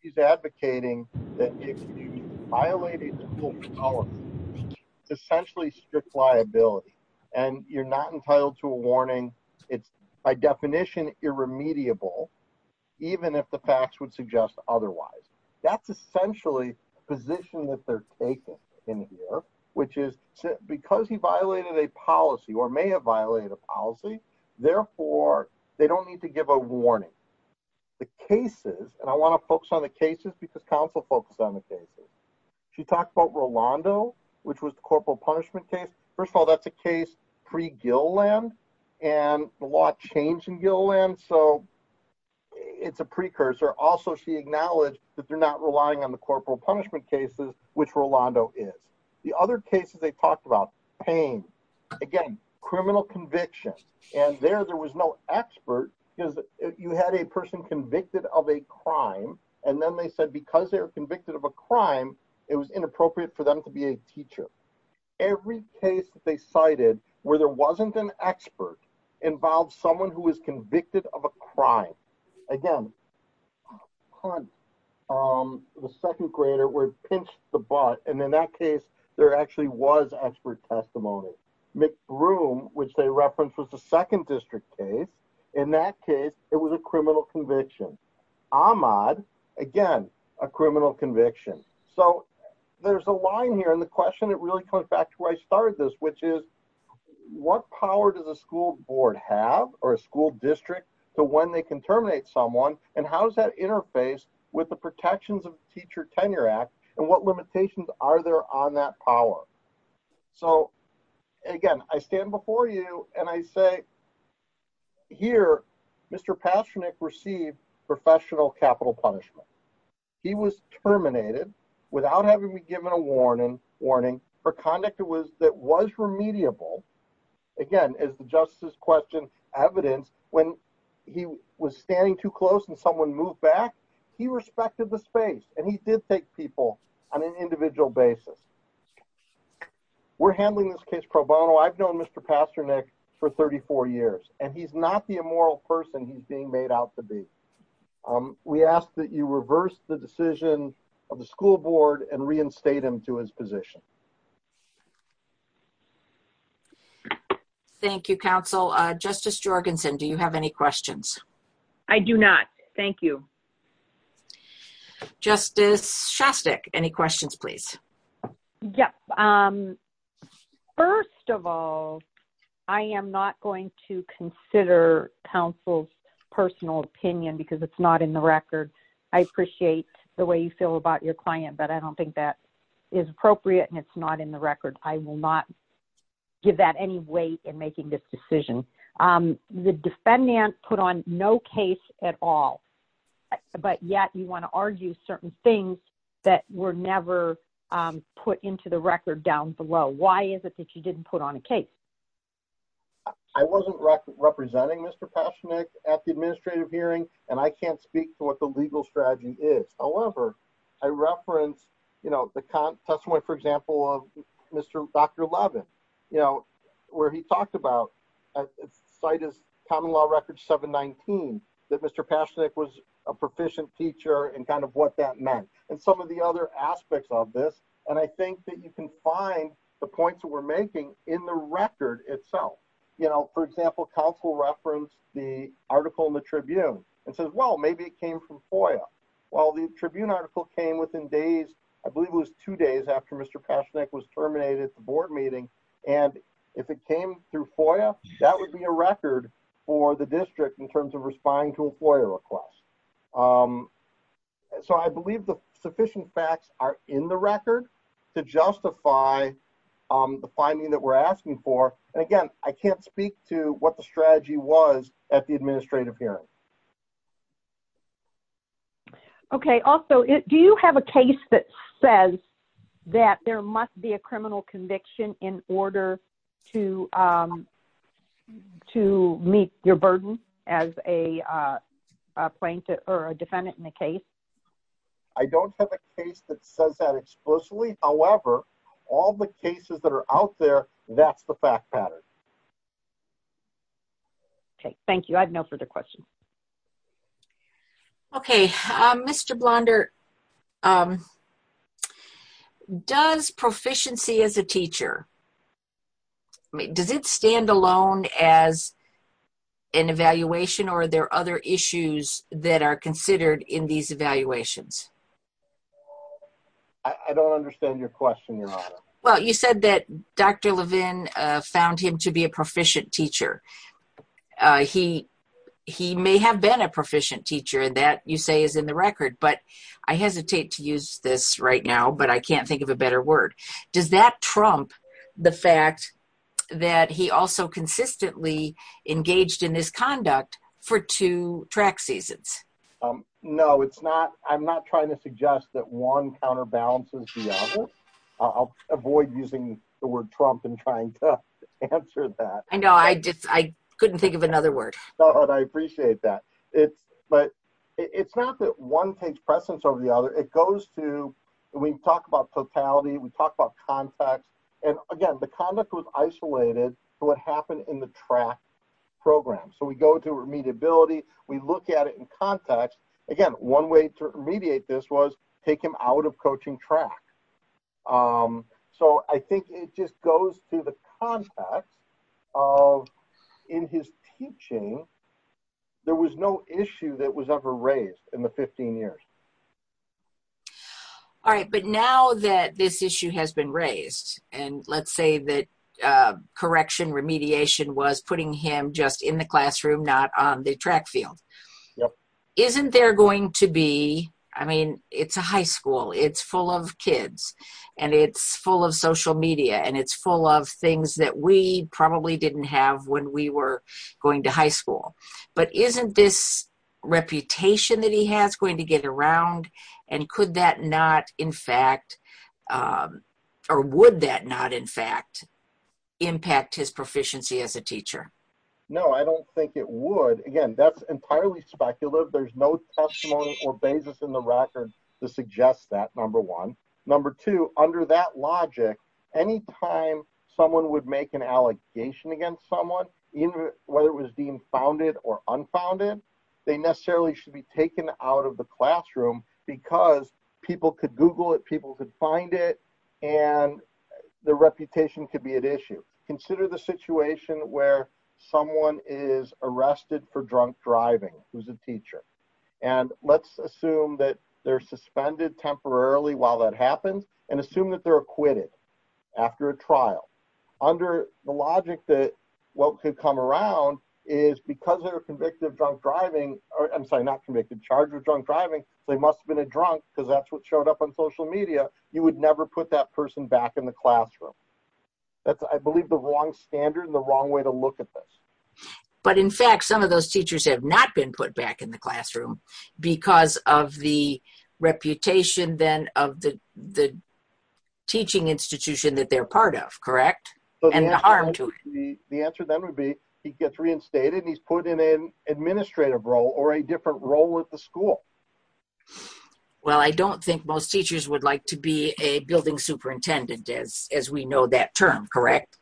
she's advocating that if you violate a school policy, it's essentially strict liability. And you're not entitled to a warning. It's by definition irremediable, even if the facts would suggest otherwise. That's essentially the position that they're taking in here, which is because he violated a policy or may have violated a policy. Therefore, they don't need to give a warning. The cases and I want to focus on the cases because counsel focused on the cases. She talked about Rolando, which was the corporal punishment case. First of all, that's a case pre-Gilliland and a lot changed in Gilliland. So it's a precursor. Also, she acknowledged that they're not relying on the corporal punishment cases, which Rolando is. The other cases they talked about pain. Again, criminal conviction. And there, there was no expert because you had a person convicted of a crime. And then they said, because they were teacher. Every case that they cited where there wasn't an expert involved someone who was convicted of a crime. Again, the second grader were pinched the butt. And in that case, there actually was expert testimony. McBroom, which they referenced was the second district case. In that case, it was a criminal conviction. Ahmad, again, a criminal conviction. So there's a line here in the question. It really comes back to where I started this, which is what power does the school board have or a school district to when they can terminate someone? And how does that interface with the protections of teacher tenure act and what limitations are there on that power? So again, I stand before you and I say here, Mr. Pastranek received professional capital punishment. He was terminated without having to be given a warning warning for conduct. It was that was remediable. Again, as the justice question evidence when he was standing too close and someone moved back, he respected the space and he did take people on an individual basis. We're handling this case pro bono. I've known Mr. Pastranek for 34 years, and he's not the immoral person he's being made out to be. We ask that you reverse the decision of the school board and reinstate him to his position. Thank you, counsel. Justice Jorgensen, do you have any questions? I do not. Thank you. Yep. First of all, I am not going to consider counsel's personal opinion because it's not in the record. I appreciate the way you feel about your client, but I don't think that is appropriate and it's not in the record. I will not give that any weight in making this decision. The defendant put on no case at all. But yet you want to argue certain things that were never put into the record down below. Why is it that you didn't put on a case? I wasn't representing Mr. Pastranek at the administrative hearing, and I can't speak to what the legal strategy is. However, I reference the testimony, for example, of Dr. Levin, where he talked about, cited Common Law Record 719, that Mr. Pastranek was a proficient teacher and what that meant and some of the other aspects of this. And I think that you can find the points that we're making in the record itself. For example, counsel referenced the article in the Tribune and says, well, maybe it came from FOIA. Well, the Tribune article came within days, I believe it was two days after Mr. Pastranek was terminated at the board meeting. And if it came through FOIA, that would be a record for the district in terms of responding to a FOIA request. So I believe the sufficient facts are in the record to justify the finding that we're asking for. And again, I can't speak to what the strategy was at the administrative hearing. Okay. Also, do you have a case that says that there must be a criminal conviction in order to meet your burden as a plaintiff or a defendant in the case? I don't have a case that says that explicitly. However, all the cases that are out there, that's the fact pattern. Okay. Thank you. I have no further questions. Okay. Mr. Blonder, does proficiency as a teacher, I mean, does it stand alone as an evaluation or are there other issues that are considered in these evaluations? I don't understand your question, Your Honor. Well, you said that Dr. Levin found him to be a proficient teacher. He may have been a proficient teacher and that you say is in the record, but I hesitate to use this right now, but I can't think of a better word. Does that trump the fact that he also consistently engaged in this conduct for two track seasons? No, I'm not trying to suggest that one counterbalances the other. I'll avoid using the word trump and trying to answer that. I know. I couldn't think of another word. I appreciate that. But it's not that one takes precedence over the other. It goes to, we talk about totality, we talk about context. And again, the conduct was isolated to what happened in the track program. So we go to remediability. We look at it in context. Again, one way to remediate this was take him out of coaching track. So I think it just goes to the context of in his teaching, there was no issue that was ever raised in the 15 years. All right. But now that this issue has been raised and let's say that correction remediation was putting him just in the classroom, not on the track field. Isn't there going to be, I mean, it's a high school, it's full of kids and it's full of social media and it's full of things that we probably didn't have when we were going to high school. But isn't this reputation that he has going to get around? And could that not, in fact, or would that not, in fact, impact his proficiency as a teacher? No, I don't think it would. Again, that's entirely speculative. There's no testimony or basis in the record to suggest that, number one. Number two, under that logic, any time someone would make an allegation against someone, whether it was deemed founded or unfounded, they necessarily should be taken out of the classroom because people could Google it, people could find it, and the reputation could be at issue. Consider the situation where someone is arrested for drunk driving, who's a teacher. And let's assume that they're suspended temporarily while that happens and assume that they're acquitted after a trial. Under the logic that what could come around is because they're convicted of drunk driving, or I'm sorry, not convicted, charged with drunk driving, they must have been a drunk because that's what showed up on social media. You would never put that person back in the classroom. That's, I believe, the wrong standard and the wrong way to look at this. But in fact, some of those teachers have not been put back in the classroom because of the reputation then of the teaching institution that they're part of, correct? And the harm to it. The answer then would be he gets reinstated, he's put in an administrative role or a different role at the school. Well, I don't think most teachers would like to be a building superintendent as we know that term, correct?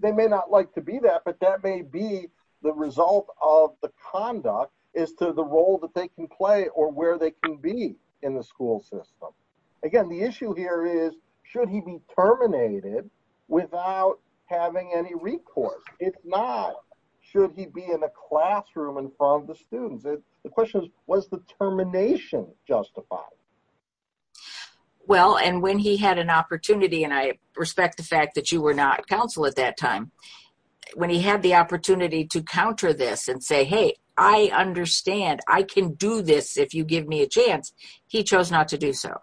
They may not like to be that, but that may be the result of the conduct as to the role that they can play or where they can be in the school system. Again, the issue here is, should he be terminated without having any recourse? If not, should he be in a classroom in front of the students? The question is, was the termination justified? Well, and when he had an opportunity, and I respect the fact that you were not counsel at that time, when he had the opportunity to counter this and say, hey, I understand, I can do this if you give me a chance, he chose not to do so,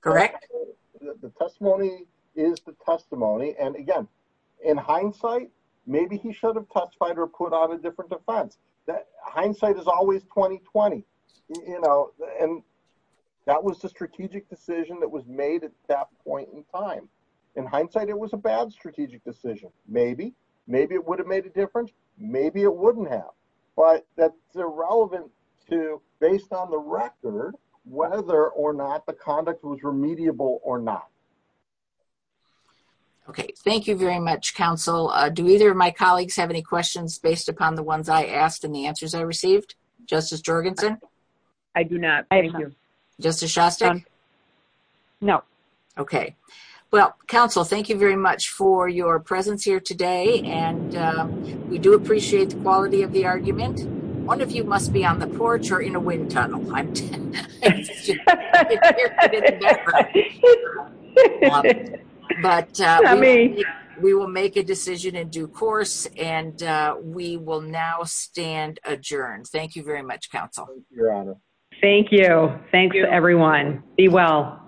correct? The testimony is the testimony. And again, in hindsight, maybe he should have testified or a different defense. Hindsight is always 20-20. And that was the strategic decision that was made at that point in time. In hindsight, it was a bad strategic decision. Maybe. Maybe it would have made a difference. Maybe it wouldn't have. But that's irrelevant to based on the record, whether or not the conduct was remediable or not. Okay, thank you very much, counsel. Do either of my colleagues have any questions based upon the ones I asked and the answers I received? Justice Jorgensen? I do not. Thank you. Justice Shostak? No. Okay. Well, counsel, thank you very much for your presence here today. And we do appreciate the quality of the argument. One of you must be on the porch or in a wind tunnel. I'm 10. But we will make a decision in due course. And we will now stand adjourned. Thank you very much, counsel. Thank you. Thanks, everyone. Be well.